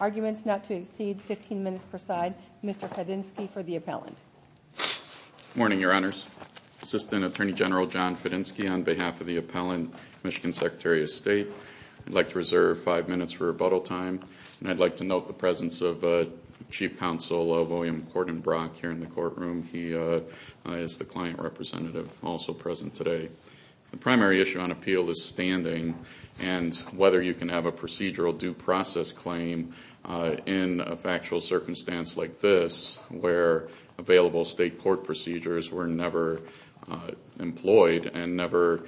Arguments not to exceed 15 minutes per side, Mr. Fedenski for the appellant. Good morning, your honors. Assistant Attorney General John Fedenski on behalf of the appellant, Michigan Secretary of State. I'd like to reserve five minutes for rebuttal time and I'd like to note the presence of Chief Counsel William Corden Brock here in the courtroom. He is the client representative also present today. The primary issue on appeal is standing and whether you can have a procedural due process claim in a factual circumstance like this where available state court procedures were never employed and never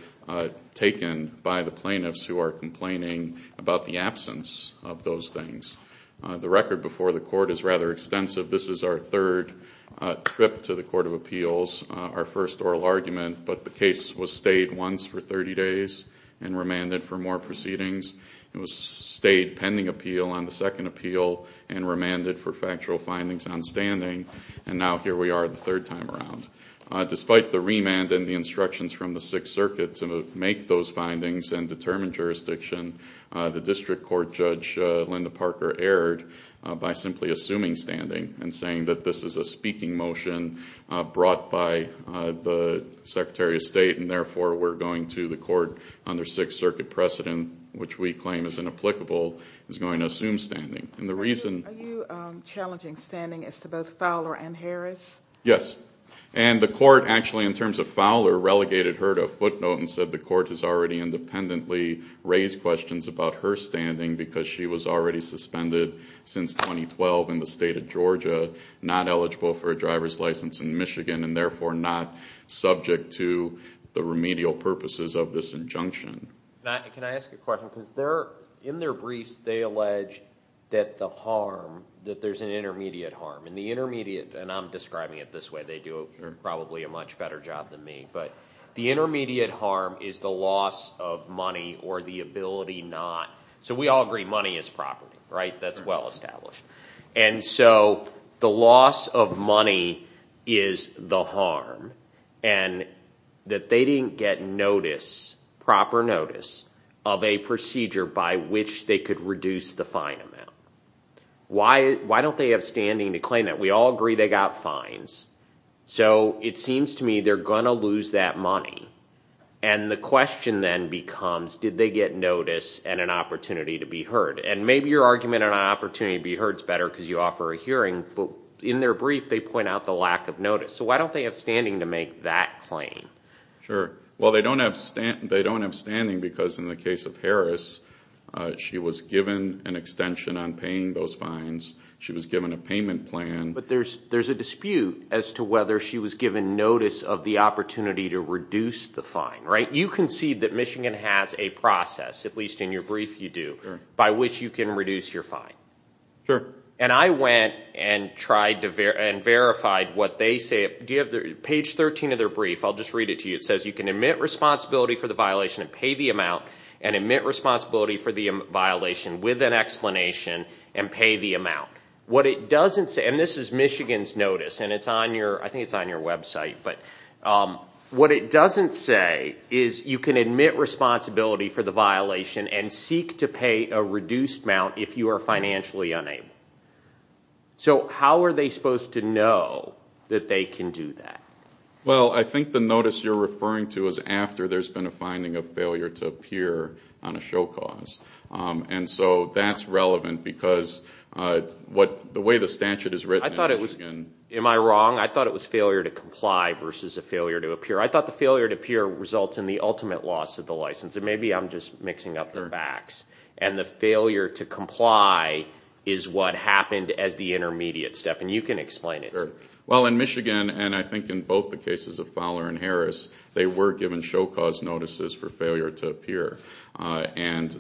taken by the plaintiffs who are complaining about the absence of those things. The record before the court is rather extensive. This is our third trip to the Court of Appeals, our first oral argument, but the case was stayed once for 30 days and remanded for more proceedings. It was stayed pending appeal on the second appeal and remanded for factual findings on standing and now here we are the third time around. Despite the remand and the instructions from the Sixth Circuit to make those findings and determine jurisdiction, the District Court Judge Linda Parker erred by simply assuming standing and saying that this is a speaking motion brought by the Secretary of State and therefore we're going to the court under Sixth Circuit precedent, which we claim is inapplicable, is going to assume standing. Are you challenging standing as to both Fowler and Harris? Yes, and the court actually in terms of Fowler relegated her to a footnote and said the court has already independently raised questions about her standing because she was already suspended since 2012 in the state of Georgia, not eligible for a driver's license in Michigan and therefore not subject to the remedial purposes of this injunction. Can I ask you a question? In their briefs they allege that there's an intermediate harm. I'm describing it this way, they do probably a much better job than me, but the intermediate harm is the loss of money or the ability not. So we all agree money is property, right? That's well established. And so the loss of money is the harm and that they didn't get notice, proper notice, of a procedure by which they could reduce the fine amount. Why don't they have standing to claim that? We all agree they got fines. So it seems to me they're going to lose that money. And the question then becomes, did they get notice and an opportunity to be heard? And maybe your argument on an opportunity to be heard is better because you offer a hearing, but in their brief they point out the lack of notice. So why don't they have standing to make that claim? Sure, well they don't have standing because in the case of Harris, she was given an extension on paying those fines. She was given a payment plan. But there's a dispute as to whether she was given notice of the opportunity to reduce the fine, right? You concede that Michigan has a process, at least in your brief you do, by which you can reduce your fine. Sure. And I went and tried and verified what they say. Page 13 of their brief, I'll just read it to you. It says you can admit responsibility for the violation and pay the amount and admit responsibility for the violation with an explanation and pay the amount. What it doesn't say, and this is Michigan's notice and I think it's on your website, but what it doesn't say is you can admit responsibility for the violation and seek to pay a reduced amount if you are financially unable. So how are they supposed to know that they can do that? Well, I think the notice you're referring to is after there's been a finding of failure to appear on a show cause. And so that's relevant because the way the statute is written in Michigan. Am I wrong? I thought it was failure to comply versus a failure to appear. I thought the failure to appear results in the ultimate loss of the license. Maybe I'm just mixing up the facts. And the failure to comply is what happened as the intermediate step. And you can explain it. Sure. Well, in Michigan, and I think in both the cases of Fowler and Harris, they were given show cause notices for failure to appear. And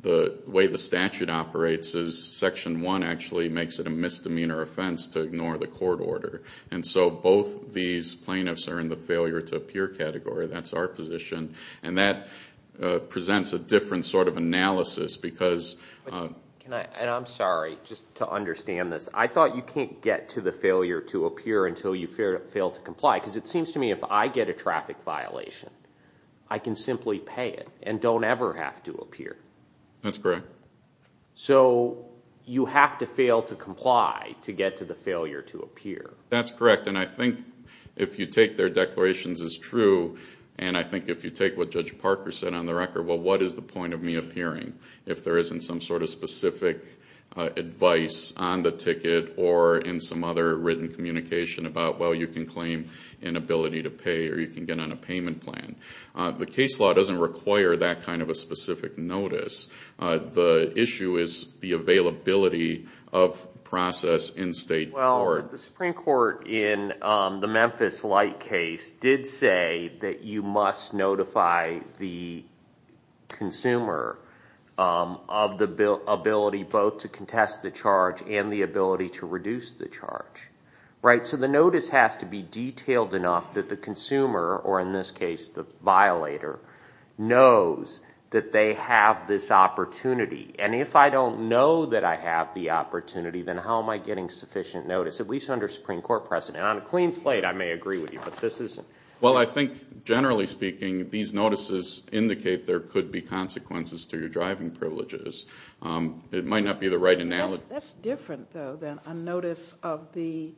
the way the statute operates is Section 1 actually makes it a misdemeanor offense to ignore the court order. And so both these plaintiffs are in the failure to appear category. That's our position. And that presents a different sort of analysis because. And I'm sorry, just to understand this. I thought you can't get to the failure to appear until you fail to comply because it seems to me if I get a traffic violation, I can simply pay it and don't ever have to appear. That's correct. So you have to fail to comply to get to the failure to appear. That's correct. And I think if you take their declarations as true, and I think if you take what Judge Parker said on the record, well, what is the point of me appearing if there isn't some sort of specific advice on the ticket or in some other written communication about, well, you can claim inability to pay or you can get on a payment plan. The case law doesn't require that kind of a specific notice. The issue is the availability of process in state court. The Supreme Court in the Memphis Light case did say that you must notify the consumer of the ability both to contest the charge and the ability to reduce the charge. So the notice has to be detailed enough that the consumer, or in this case the violator, knows that they have this opportunity. And if I don't know that I have the opportunity, then how am I getting sufficient notice, at least under Supreme Court precedent? On a clean slate, I may agree with you, but this isn't. Well, I think generally speaking, these notices indicate there could be consequences to your driving privileges. It might not be the right analogy. That's different, though, than a notice of the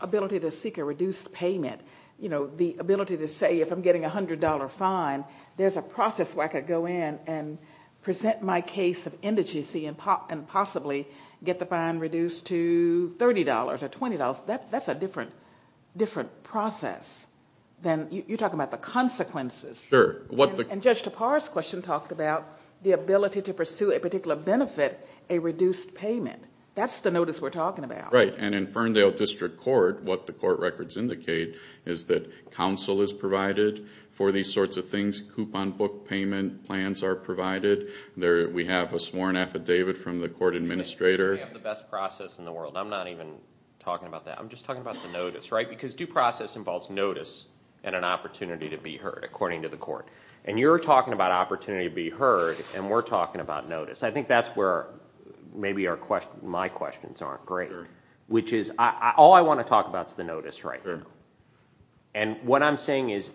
ability to seek a reduced payment. The ability to say, if I'm getting a $100 fine, there's a process where I could go in and present my case of indigency and possibly get the fine reduced to $30 or $20. That's a different process. You're talking about the consequences. And Judge Tappara's question talked about the ability to pursue a particular benefit, a reduced payment. That's the notice we're talking about. Right, and in Ferndale District Court, what the court records indicate is that counsel is provided for these sorts of things. Coupon book payment plans are provided. We have a sworn affidavit from the court administrator. We have the best process in the world. I'm not even talking about that. I'm just talking about the notice, right? Because due process involves notice and an opportunity to be heard, according to the court. And you're talking about opportunity to be heard, and we're talking about notice. I think that's where maybe my questions aren't great, which is all I want to talk about is the notice right now. And what I'm saying is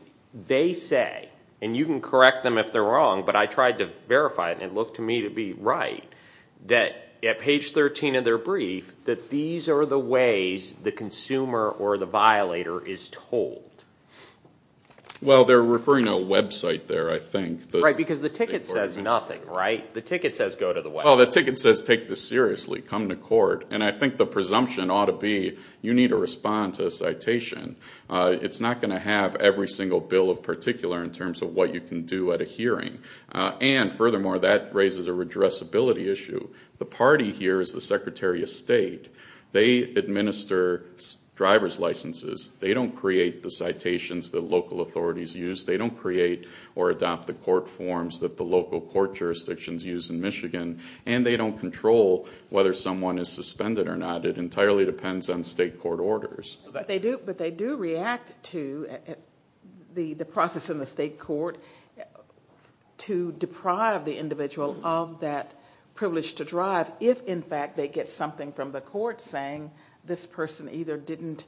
they say, and you can correct them if they're wrong, but I tried to verify it, and it looked to me to be right, that at page 13 of their brief, that these are the ways the consumer or the violator is told. Well, they're referring to a website there, I think. Right, because the ticket says nothing, right? The ticket says go to the website. Well, the ticket says take this seriously, come to court. And I think the presumption ought to be you need to respond to a citation. It's not going to have every single bill of particular in terms of what you can do at a hearing. And furthermore, that raises a redressability issue. The party here is the Secretary of State. They administer driver's licenses. They don't create the citations that local authorities use. They don't create or adopt the court forms that the local court jurisdictions use in Michigan. And they don't control whether someone is suspended or not. It entirely depends on state court orders. But they do react to the process in the state court to deprive the individual of that privilege to drive if, in fact, they get something from the court saying this person either didn't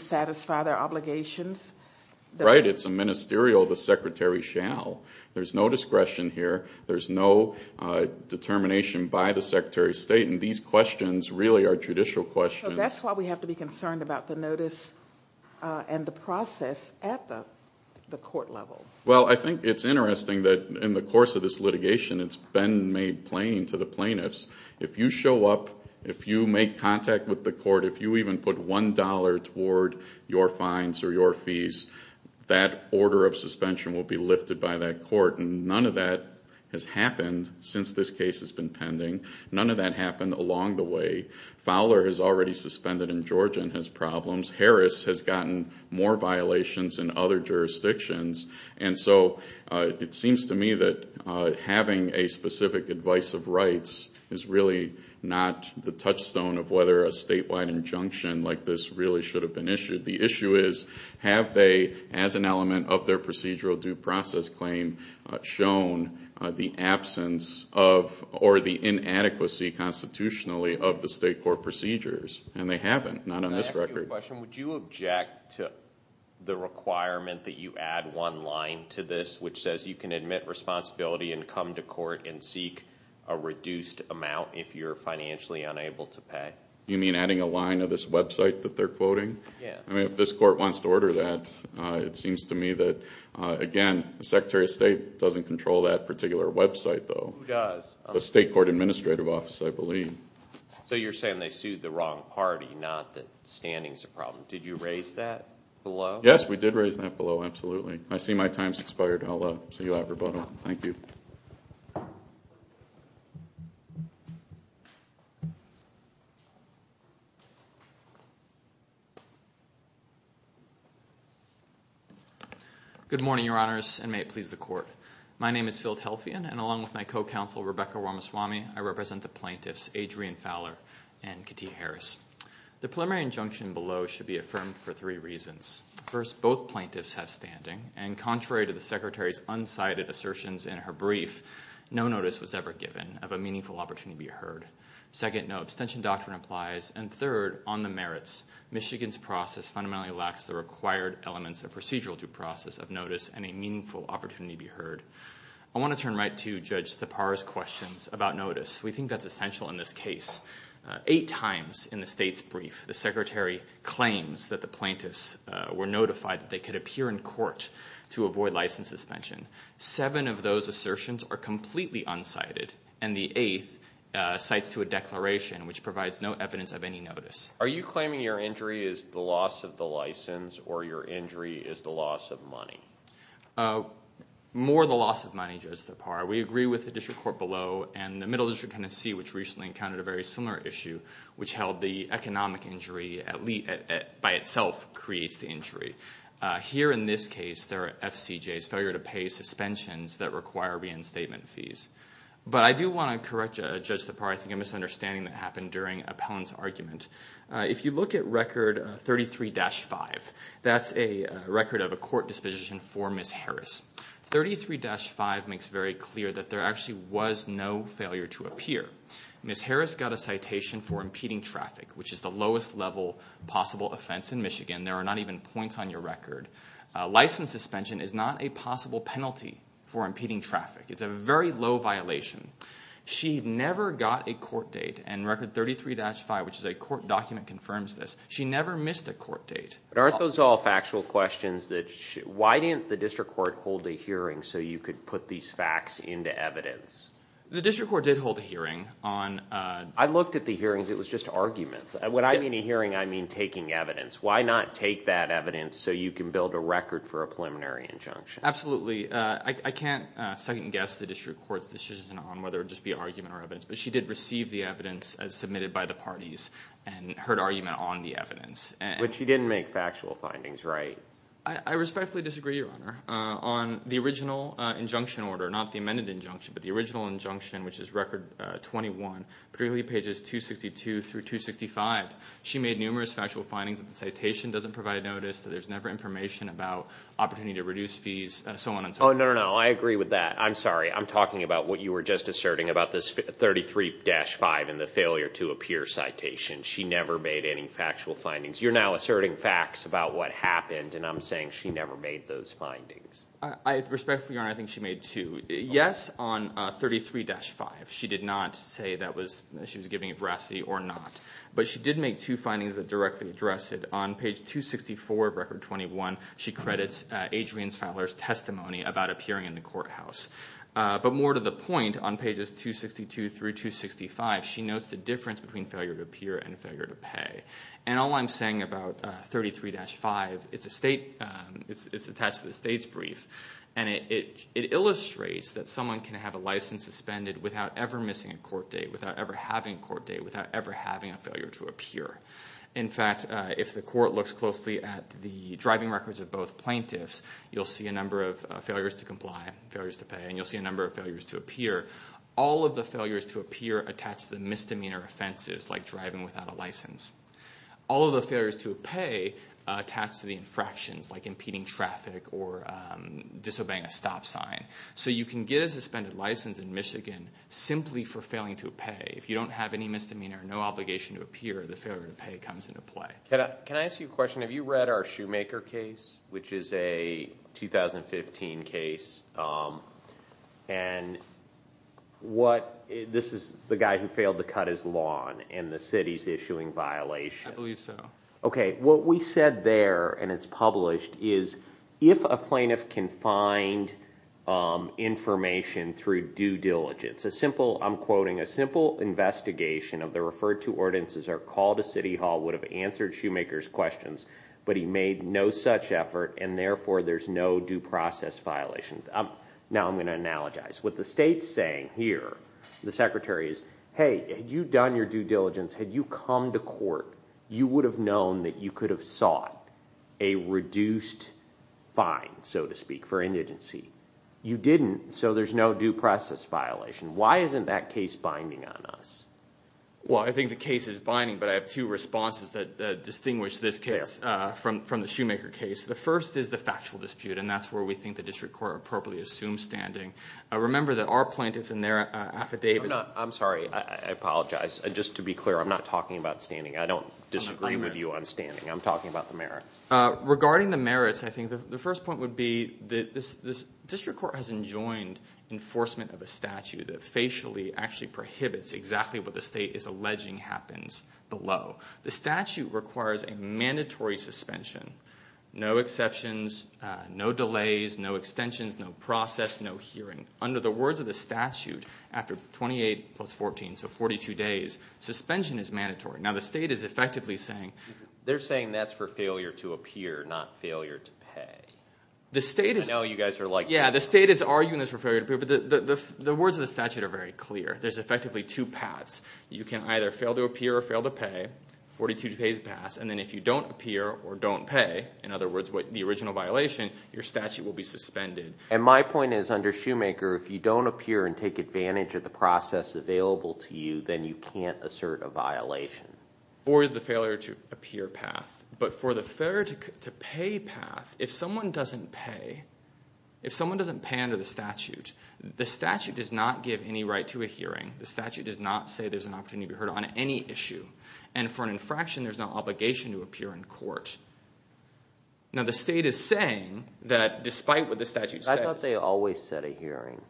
satisfy their obligations. Right, it's a ministerial the secretary shall. There's no discretion here. There's no determination by the secretary of state. And these questions really are judicial questions. That's why we have to be concerned about the notice and the process at the court level. Well, I think it's interesting that in the course of this litigation it's been made plain to the plaintiffs. If you show up, if you make contact with the court, if you even put $1 toward your fines or your fees, that order of suspension will be lifted by that court. And none of that has happened since this case has been pending. None of that happened along the way. Fowler is already suspended in Georgia and has problems. Harris has gotten more violations in other jurisdictions. And so it seems to me that having a specific advice of rights is really not the touchstone of whether a statewide injunction like this really should have been issued. The issue is have they, as an element of their procedural due process claim, shown the absence of or the inadequacy constitutionally of the state court procedures? And they haven't, not on this record. I have a question. Would you object to the requirement that you add one line to this which says you can admit responsibility and come to court and seek a reduced amount if you're financially unable to pay? You mean adding a line of this website that they're quoting? Yeah. I mean, if this court wants to order that, it seems to me that, again, the Secretary of State doesn't control that particular website, though. Who does? The State Court Administrative Office, I believe. So you're saying they sued the wrong party, not that standing is a problem. Did you raise that below? Yes, we did raise that below, absolutely. I see my time has expired. I'll see you at rebuttal. Thank you. Good morning, Your Honors, and may it please the Court. My name is Phil Telfian, and along with my co-counsel, Rebecca Womaswamy, I represent the plaintiffs, Adrian Fowler and Katie Harris. The preliminary injunction below should be affirmed for three reasons. First, both plaintiffs have standing, and contrary to the Secretary's unsighted assertions in her brief, no notice was ever given of a meaningful opportunity to be heard. Second, no abstention doctrine applies. And third, on the merits, Michigan's process fundamentally lacks the required elements I want to turn right to Judge Thapar's questions about notice. We think that's essential in this case. Eight times in the State's brief, the Secretary claims that the plaintiffs were notified that they could appear in court to avoid license suspension. Seven of those assertions are completely unsighted, and the eighth cites to a declaration which provides no evidence of any notice. Are you claiming your injury is the loss of the license or your injury is the loss of money? More the loss of money, Judge Thapar. We agree with the district court below and the Middle District Tennessee, which recently encountered a very similar issue, which held the economic injury by itself creates the injury. Here in this case, there are FCJs, failure to pay suspensions that require reinstatement fees. But I do want to correct Judge Thapar. I think a misunderstanding that happened during Appellant's argument. If you look at Record 33-5, that's a record of a court disposition for Ms. Harris. 33-5 makes very clear that there actually was no failure to appear. Ms. Harris got a citation for impeding traffic, which is the lowest level possible offense in Michigan. There are not even points on your record. License suspension is not a possible penalty for impeding traffic. It's a very low violation. She never got a court date, and Record 33-5, which is a court document, confirms this. She never missed a court date. Aren't those all factual questions? Why didn't the district court hold a hearing so you could put these facts into evidence? The district court did hold a hearing. I looked at the hearings. It was just arguments. When I mean a hearing, I mean taking evidence. Why not take that evidence so you can build a record for a preliminary injunction? Absolutely. I can't second-guess the district court's decision on whether it would just be argument or evidence, but she did receive the evidence as submitted by the parties and heard argument on the evidence. But she didn't make factual findings, right? I respectfully disagree, Your Honor, on the original injunction order, not the amended injunction, but the original injunction, which is Record 21, particularly pages 262 through 265. She made numerous factual findings that the citation doesn't provide notice, that there's never information about opportunity to reduce fees, and so on and so forth. Oh, no, no, no. I agree with that. I'm sorry. I'm talking about what you were just asserting about this 33-5 and the failure to appear citation. She never made any factual findings. You're now asserting facts about what happened, and I'm saying she never made those findings. I respectfully, Your Honor, I think she made two. Yes, on 33-5, she did not say that she was giving veracity or not, but she did make two findings that directly address it. On page 264 of Record 21, she credits Adrian Fowler's testimony about appearing in the courthouse. But more to the point, on pages 262 through 265, she notes the difference between failure to appear and failure to pay. And all I'm saying about 33-5, it's attached to the state's brief, and it illustrates that someone can have a license suspended without ever missing a court date, without ever having a court date, without ever having a failure to appear. In fact, if the court looks closely at the driving records of both plaintiffs, you'll see a number of failures to comply, failures to pay, and you'll see a number of failures to appear. All of the failures to appear attach to the misdemeanor offenses, like driving without a license. All of the failures to pay attach to the infractions, like impeding traffic or disobeying a stop sign. So you can get a suspended license in Michigan simply for failing to pay. If you don't have any misdemeanor, no obligation to appear, the failure to pay comes into play. Can I ask you a question? Have you read our Shoemaker case, which is a 2015 case? And this is the guy who failed to cut his lawn, and the city's issuing violations. I believe so. Okay, what we said there, and it's published, is if a plaintiff can find information through due diligence, a simple, I'm quoting, a simple investigation of the referred to ordinances or call to city hall would have answered Shoemaker's questions, but he made no such effort, and therefore there's no due process violation. Now I'm going to analogize. What the state's saying here, the secretary is, hey, had you done your due diligence, had you come to court, you would have known that you could have sought a reduced fine, so to speak, for indigency. You didn't, so there's no due process violation. Why isn't that case binding on us? Well, I think the case is binding, but I have two responses that distinguish this case from the Shoemaker case. The first is the factual dispute, and that's where we think the district court appropriately assumes standing. Remember that our plaintiffs and their affidavits. I'm sorry. I apologize. Just to be clear, I'm not talking about standing. I don't disagree with you on standing. I'm talking about the merits. Regarding the merits, I think the first point would be the district court has enjoined enforcement of a statute that facially actually prohibits exactly what the state is alleging happens below. The statute requires a mandatory suspension, no exceptions, no delays, no extensions, no process, no hearing. Under the words of the statute, after 28 plus 14, so 42 days, suspension is mandatory. Now, the state is effectively saying. They're saying that's for failure to appear, not failure to pay. The state is. I know you guys are like. Yeah, the state is arguing this for failure to appear, but the words of the statute are very clear. There's effectively two paths. You can either fail to appear or fail to pay, 42 days pass, and then if you don't appear or don't pay, in other words, the original violation, your statute will be suspended. And my point is under Shoemaker, if you don't appear and take advantage of the process available to you, then you can't assert a violation. Or the failure to appear path. But for the failure to pay path, if someone doesn't pay, if someone doesn't pay under the statute, the statute does not give any right to a hearing. The statute does not say there's an opportunity to be heard on any issue. And for an infraction, there's no obligation to appear in court. Now, the state is saying that despite what the statute says. I thought they always set a hearing.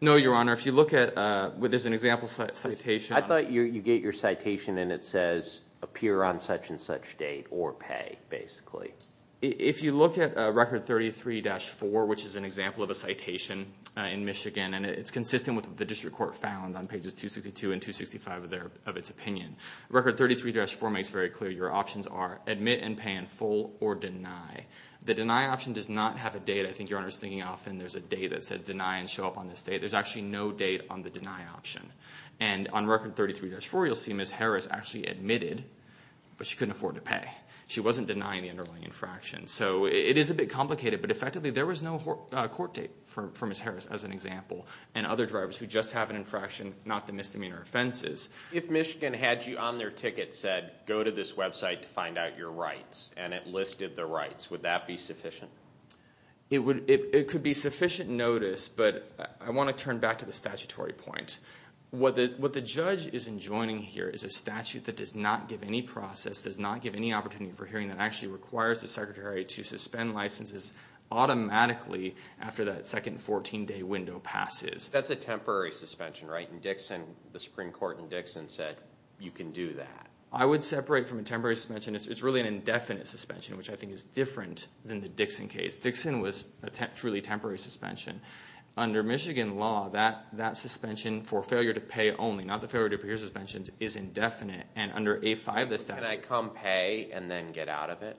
No, Your Honor. If you look at where there's an example citation. I thought you get your citation and it says appear on such and such date or pay, basically. If you look at Record 33-4, which is an example of a citation in Michigan, and it's consistent with what the district court found on pages 262 and 265 of its opinion. Record 33-4 makes very clear your options are admit and pay in full or deny. The deny option does not have a date. I think Your Honor is thinking often there's a date that says deny and show up on this date. There's actually no date on the deny option. And on Record 33-4, you'll see Ms. Harris actually admitted, but she couldn't afford to pay. She wasn't denying the underlying infraction. So it is a bit complicated, but effectively there was no court date for Ms. Harris as an example and other drivers who just have an infraction, not the misdemeanor offenses. If Michigan had you on their ticket and said go to this website to find out your rights and it listed the rights, would that be sufficient? It could be sufficient notice, but I want to turn back to the statutory point. What the judge is enjoining here is a statute that does not give any process, does not give any opportunity for hearing that actually requires the secretary to suspend licenses automatically after that second 14-day window passes. That's a temporary suspension, right? The Supreme Court in Dixon said you can do that. I would separate from a temporary suspension. It's really an indefinite suspension, which I think is different than the Dixon case. Dixon was a truly temporary suspension. Under Michigan law, that suspension for failure to pay only, not the failure to appear suspensions, is indefinite. And under A-5 of the statute. Can I come pay and then get out of it?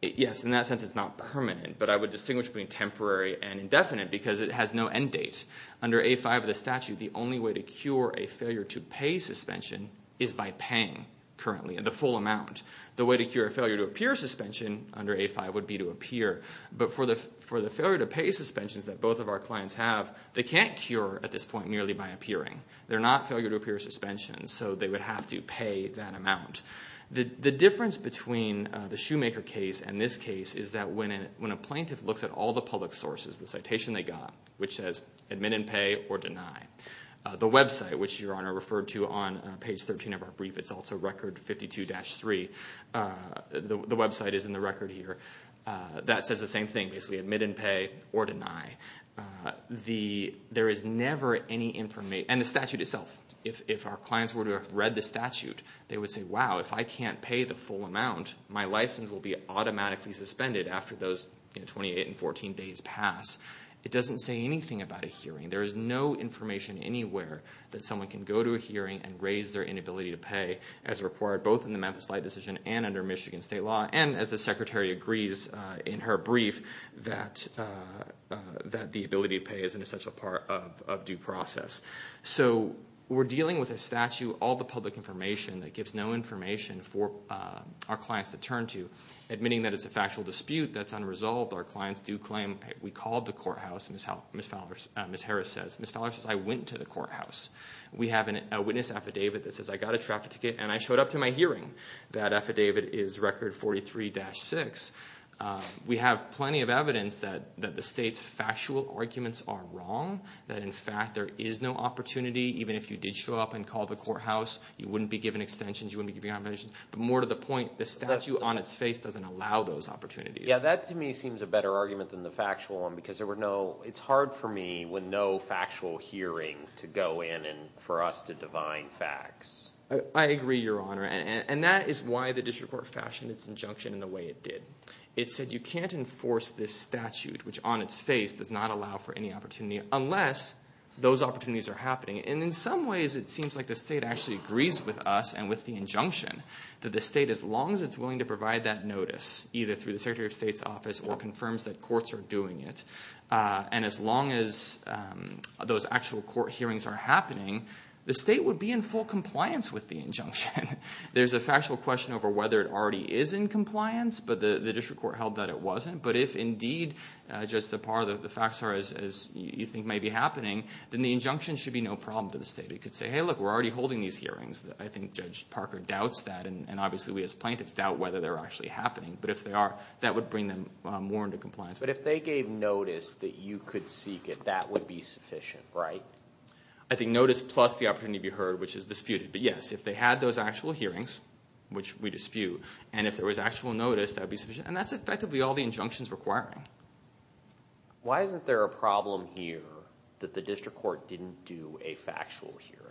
Yes, in that sense it's not permanent. But I would distinguish between temporary and indefinite because it has no end date. Under A-5 of the statute, the only way to cure a failure to pay suspension is by paying currently, the full amount. The way to cure a failure to appear suspension under A-5 would be to appear. But for the failure to pay suspensions that both of our clients have, they can't cure at this point merely by appearing. They're not failure to appear suspensions, so they would have to pay that amount. The difference between the Shoemaker case and this case is that when a plaintiff looks at all the public sources, the citation they got, which says admit and pay or deny. The website, which Your Honor referred to on page 13 of our brief, it's also record 52-3. The website is in the record here. That says the same thing, basically admit and pay or deny. There is never any information, and the statute itself. If our clients were to have read the statute, they would say, wow, if I can't pay the full amount, my license will be automatically suspended after those 28 and 14 days pass. It doesn't say anything about a hearing. There is no information anywhere that someone can go to a hearing and raise their inability to pay as required both in the Memphis Light Decision and under Michigan State Law, and as the Secretary agrees in her brief, that the ability to pay is an essential part of due process. We're dealing with a statute, all the public information that gives no information for our clients to turn to. Admitting that it's a factual dispute, that's unresolved. Our clients do claim, we called the courthouse. Ms. Harris says, Ms. Fowler says, I went to the courthouse. We have a witness affidavit that says I got a traffic ticket and I showed up to my hearing. That affidavit is record 43-6. We have plenty of evidence that the state's factual arguments are wrong. That, in fact, there is no opportunity. Even if you did show up and call the courthouse, you wouldn't be given extensions. You wouldn't be given compensation. But more to the point, the statute on its face doesn't allow those opportunities. Yeah, that to me seems a better argument than the factual one because there were no – it's hard for me with no factual hearing to go in and for us to divine facts. I agree, Your Honor, and that is why the district court fashioned its injunction in the way it did. It said you can't enforce this statute, which on its face does not allow for any opportunity unless those opportunities are happening. And in some ways it seems like the state actually agrees with us and with the injunction that the state, as long as it's willing to provide that notice, either through the Secretary of State's office or confirms that courts are doing it, and as long as those actual court hearings are happening, the state would be in full compliance with the injunction. There's a factual question over whether it already is in compliance, but the district court held that it wasn't. But if indeed just the facts are as you think may be happening, then the injunction should be no problem to the state. It could say, hey, look, we're already holding these hearings. I think Judge Parker doubts that, and obviously we as plaintiffs doubt whether they're actually happening. But if they are, that would bring them more into compliance. But if they gave notice that you could seek it, that would be sufficient, right? I think notice plus the opportunity to be heard, which is disputed. But yes, if they had those actual hearings, which we dispute, and if there was actual notice, that would be sufficient. And that's effectively all the injunctions requiring. Why isn't there a problem here that the district court didn't do a factual hearing?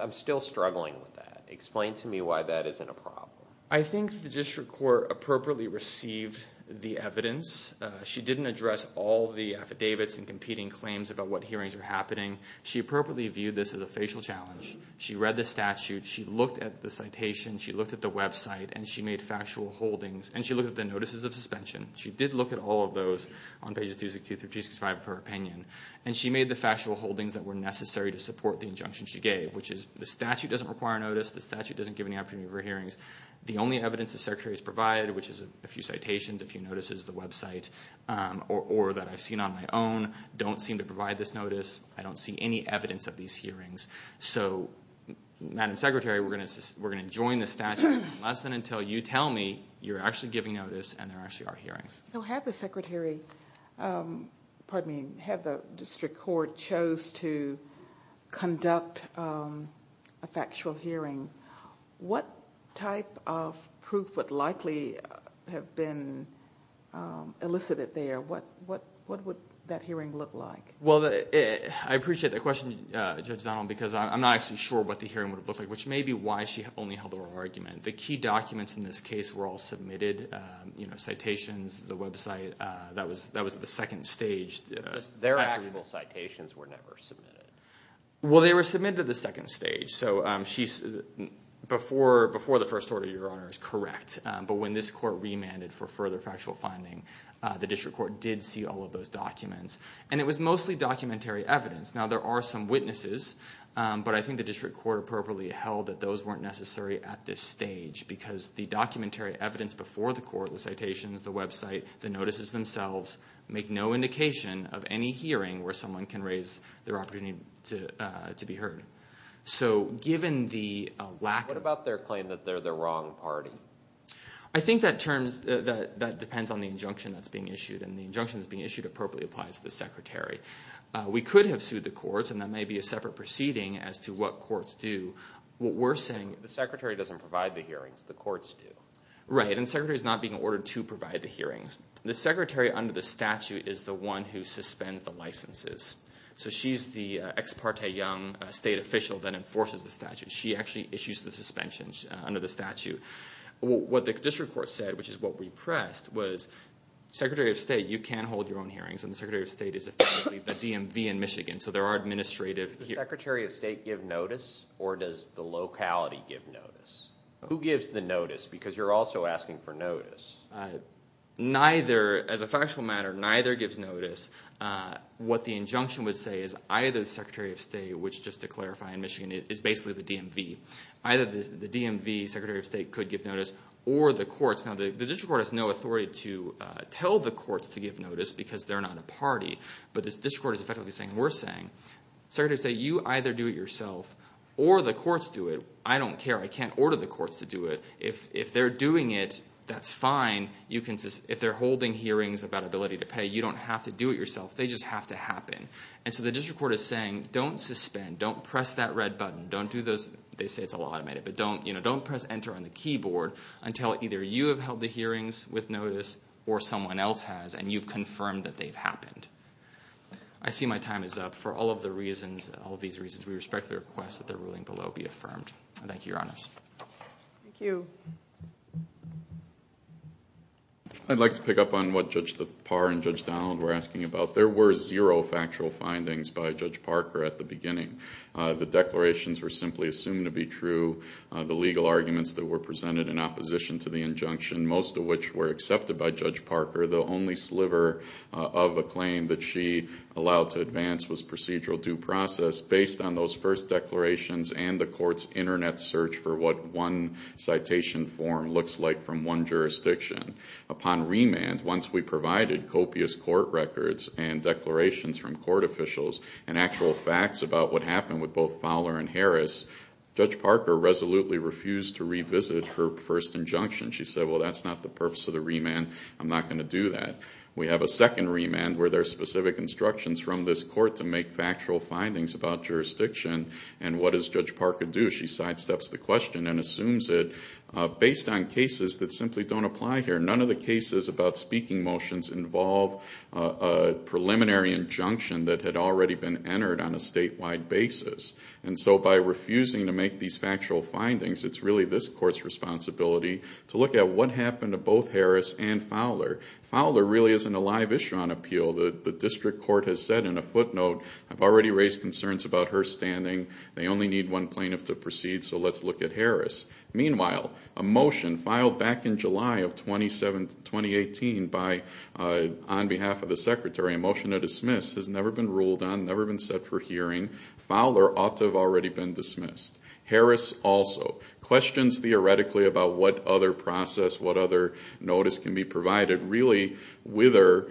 I'm still struggling with that. Explain to me why that isn't a problem. I think the district court appropriately received the evidence. She didn't address all the affidavits and competing claims about what hearings are happening. She appropriately viewed this as a facial challenge. She read the statute. She looked at the citation. She looked at the website, and she made factual holdings, and she looked at the notices of suspension. She did look at all of those on pages 262 through 265 of her opinion, and she made the factual holdings that were necessary to support the injunction she gave, which is the statute doesn't require notice. The statute doesn't give any opportunity for hearings. The only evidence the Secretary has provided, which is a few citations, a few notices, the website, or that I've seen on my own, don't seem to provide this notice. I don't see any evidence of these hearings. Madam Secretary, we're going to join the statute unless and until you tell me you're actually giving notice and there actually are hearings. So had the district court chose to conduct a factual hearing, what type of proof would likely have been elicited there? What would that hearing look like? Well, I appreciate that question, Judge Donald, because I'm not actually sure what the hearing would have looked like, which may be why she only held her argument. The key documents in this case were all submitted, citations, the website. That was the second stage. Their actual citations were never submitted. Well, they were submitted at the second stage. So before the first order, Your Honor, is correct, but when this court remanded for further factual finding, the district court did see all of those documents. And it was mostly documentary evidence. Now, there are some witnesses, but I think the district court appropriately held that those weren't necessary at this stage because the documentary evidence before the court, the citations, the website, the notices themselves, make no indication of any hearing where someone can raise their opportunity to be heard. So given the lack of... What about their claim that they're the wrong party? I think that depends on the injunction that's being issued, and the injunction that's being issued appropriately applies to the secretary. We could have sued the courts, and that may be a separate proceeding as to what courts do. What we're saying... The secretary doesn't provide the hearings. The courts do. Right, and the secretary's not being ordered to provide the hearings. The secretary under the statute is the one who suspends the licenses. So she's the ex parte young state official that enforces the statute. She actually issues the suspensions under the statute. What the district court said, which is what we pressed, was, Secretary of State, you can hold your own hearings, and the Secretary of State is effectively the DMV in Michigan, so there are administrative hearings. Does the Secretary of State give notice, or does the locality give notice? Who gives the notice because you're also asking for notice? Neither. As a factual matter, neither gives notice. What the injunction would say is either the Secretary of State, which, just to clarify, in Michigan is basically the DMV, either the DMV, Secretary of State, could give notice, or the courts. Now, the district court has no authority to tell the courts to give notice because they're not a party, but the district court is effectively saying, we're saying, Secretary of State, you either do it yourself or the courts do it. I don't care. I can't order the courts to do it. If they're doing it, that's fine. If they're holding hearings about ability to pay, you don't have to do it yourself. They just have to happen. And so the district court is saying, don't suspend. Don't press that red button. Don't do those, they say it's all automated, but don't press enter on the keyboard until either you have held the hearings with notice or someone else has and you've confirmed that they've happened. I see my time is up. For all of the reasons, all of these reasons, we respectfully request that the ruling below be affirmed. Thank you, Your Honors. Thank you. I'd like to pick up on what Judge Thapar and Judge Donald were asking about. There were zero factual findings by Judge Parker at the beginning. The declarations were simply assumed to be true. The legal arguments that were presented in opposition to the injunction, most of which were accepted by Judge Parker. The only sliver of a claim that she allowed to advance was procedural due process based on those first declarations and the court's Internet search for what one citation form looks like from one jurisdiction. Upon remand, once we provided copious court records and declarations from court officials and actual facts about what happened with both Fowler and Harris, Judge Parker resolutely refused to revisit her first injunction. She said, well, that's not the purpose of the remand. I'm not going to do that. We have a second remand where there are specific instructions from this court to make factual findings about jurisdiction, and what does Judge Parker do? She sidesteps the question and assumes it based on cases that simply don't apply here. None of the cases about speaking motions involve a preliminary injunction that had already been entered on a statewide basis. And so by refusing to make these factual findings, it's really this court's responsibility to look at what happened to both Harris and Fowler. Fowler really isn't a live issue on appeal. The district court has said in a footnote, I've already raised concerns about her standing. They only need one plaintiff to proceed, so let's look at Harris. Meanwhile, a motion filed back in July of 2018 on behalf of the Secretary, a motion to dismiss, has never been ruled on, never been set for hearing. Fowler ought to have already been dismissed. Harris also. Questions theoretically about what other process, what other notice can be provided, really wither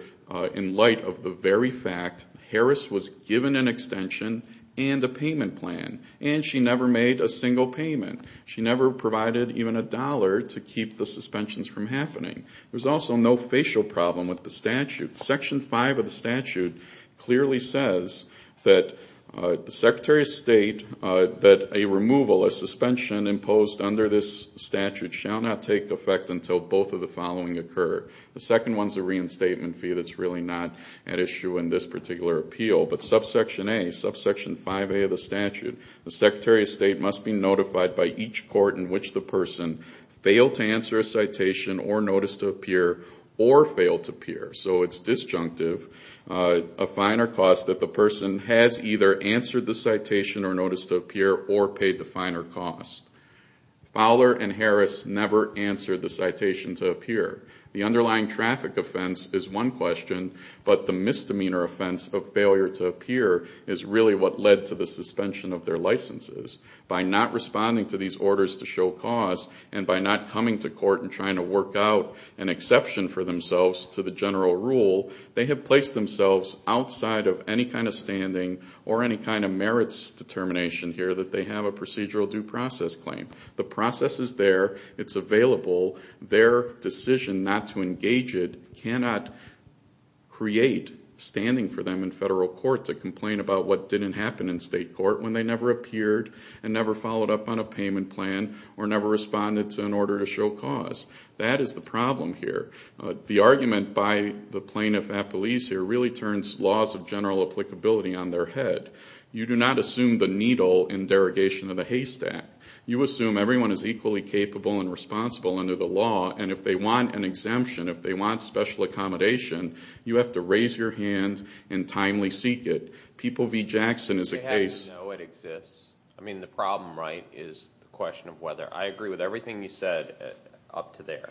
in light of the very fact Harris was given an extension and a payment plan, and she never made a single payment. She never provided even a dollar to keep the suspensions from happening. There's also no facial problem with the statute. Section 5 of the statute clearly says that the Secretary of State, that a removal, a suspension imposed under this statute, shall not take effect until both of the following occur. The second one's a reinstatement fee that's really not at issue in this particular appeal. But subsection A, subsection 5A of the statute, the Secretary of State must be notified by each court in which the person failed to answer a citation or notice to appear or failed to appear. So it's disjunctive of finer cost that the person has either answered the citation or notice to appear or paid the finer cost. Fowler and Harris never answered the citation to appear. The underlying traffic offense is one question, but the misdemeanor offense of failure to appear is really what led to the suspension of their licenses. By not responding to these orders to show cause and by not coming to court and trying to work out an exception for themselves to the general rule, they have placed themselves outside of any kind of standing or any kind of merits determination here that they have a procedural due process claim. The process is there. It's available. Their decision not to engage it cannot create standing for them in federal court to complain about what didn't happen in state court when they never appeared and never followed up on a payment plan or never responded to an order to show cause. That is the problem here. The argument by the plaintiff at police here really turns laws of general applicability on their head. You do not assume the needle in derogation of the Haste Act. You assume everyone is equally capable and responsible under the law, and if they want an exemption, if they want special accommodation, you have to raise your hand and timely seek it. Don't they have to know it exists? I mean, the problem, right, is the question of whether. I agree with everything you said up to there.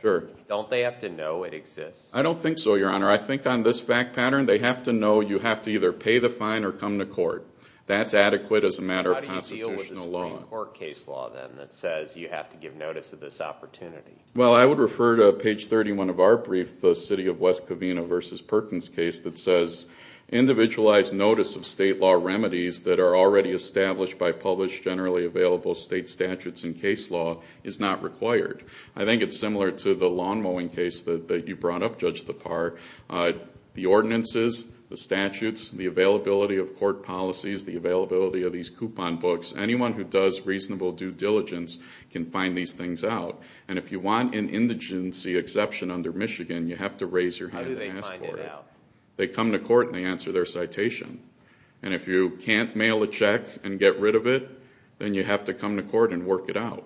Don't they have to know it exists? I don't think so, Your Honor. I think on this fact pattern they have to know you have to either pay the fine or come to court. That's adequate as a matter of constitutional law. How do you deal with the Supreme Court case law, then, that says you have to give notice of this opportunity? Well, I would refer to page 31 of our brief, the city of West Covina v. Perkins case, that says individualized notice of state law remedies that are already established by published, generally available state statutes and case law is not required. I think it's similar to the lawn mowing case that you brought up, Judge Thapar. The ordinances, the statutes, the availability of court policies, the availability of these coupon books, anyone who does reasonable due diligence can find these things out. And if you want an indigency exception under Michigan, you have to raise your hand and ask for it. They come to court and they answer their citation. And if you can't mail a check and get rid of it, then you have to come to court and work it out.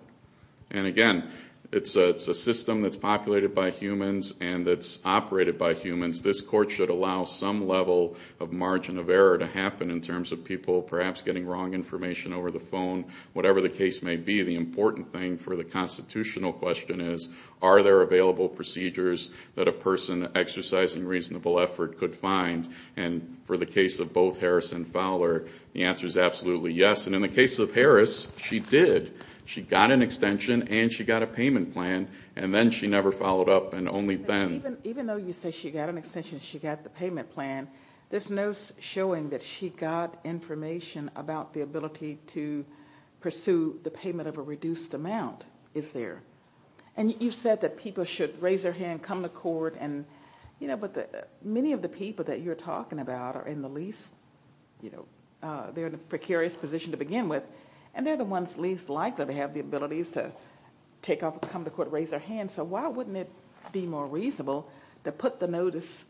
And, again, it's a system that's populated by humans and that's operated by humans. This court should allow some level of margin of error to happen in terms of people perhaps getting wrong information over the phone. Whatever the case may be, the important thing for the constitutional question is, are there available procedures that a person exercising reasonable effort could find? And for the case of both Harris and Fowler, the answer is absolutely yes. And in the case of Harris, she did. She got an extension and she got a payment plan, and then she never followed up and only then. Even though you say she got an extension and she got the payment plan, there's no showing that she got information about the ability to pursue the payment of a reduced amount, is there? And you've said that people should raise their hand, come to court. But many of the people that you're talking about are in the least – they're in a precarious position to begin with, and they're the ones least likely to have the abilities to come to court, raise their hand. So why wouldn't it be more reasonable to put the notice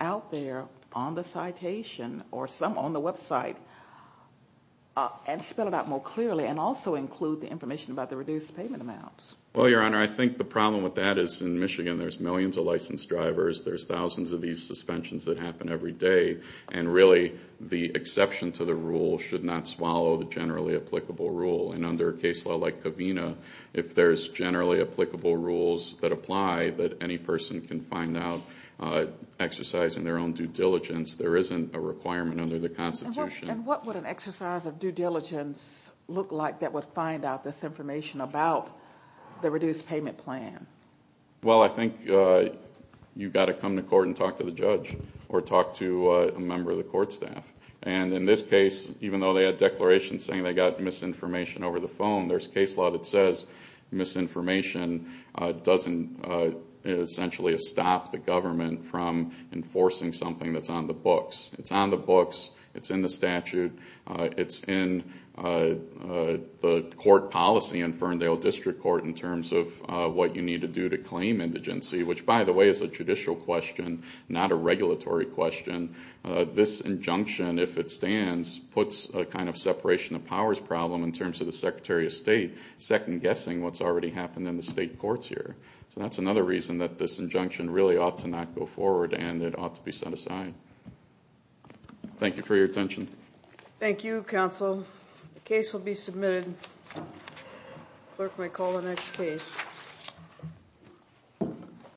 out there on the citation or some on the website and spell it out more clearly and also include the information about the reduced payment amounts? Well, Your Honor, I think the problem with that is in Michigan there's millions of licensed drivers, there's thousands of these suspensions that happen every day, and really the exception to the rule should not swallow the generally applicable rule. And under a case law like Covina, if there's generally applicable rules that apply that any person can find out exercising their own due diligence, there isn't a requirement under the Constitution. And what would an exercise of due diligence look like that would find out this information about the reduced payment plan? Well, I think you've got to come to court and talk to the judge or talk to a member of the court staff. And in this case, even though they had declarations saying they got misinformation over the phone, there's case law that says misinformation doesn't essentially stop the government from enforcing something that's on the books. It's on the books. It's in the statute. It's in the court policy in Ferndale District Court in terms of what you need to do to claim indigency, which, by the way, is a judicial question, not a regulatory question. This injunction, if it stands, puts a kind of separation of powers problem in terms of the Secretary of State second-guessing what's already happened in the state courts here. So that's another reason that this injunction really ought to not go forward and it ought to be set aside. Thank you for your attention. Thank you, counsel. The case will be submitted. Clerk may call the next case.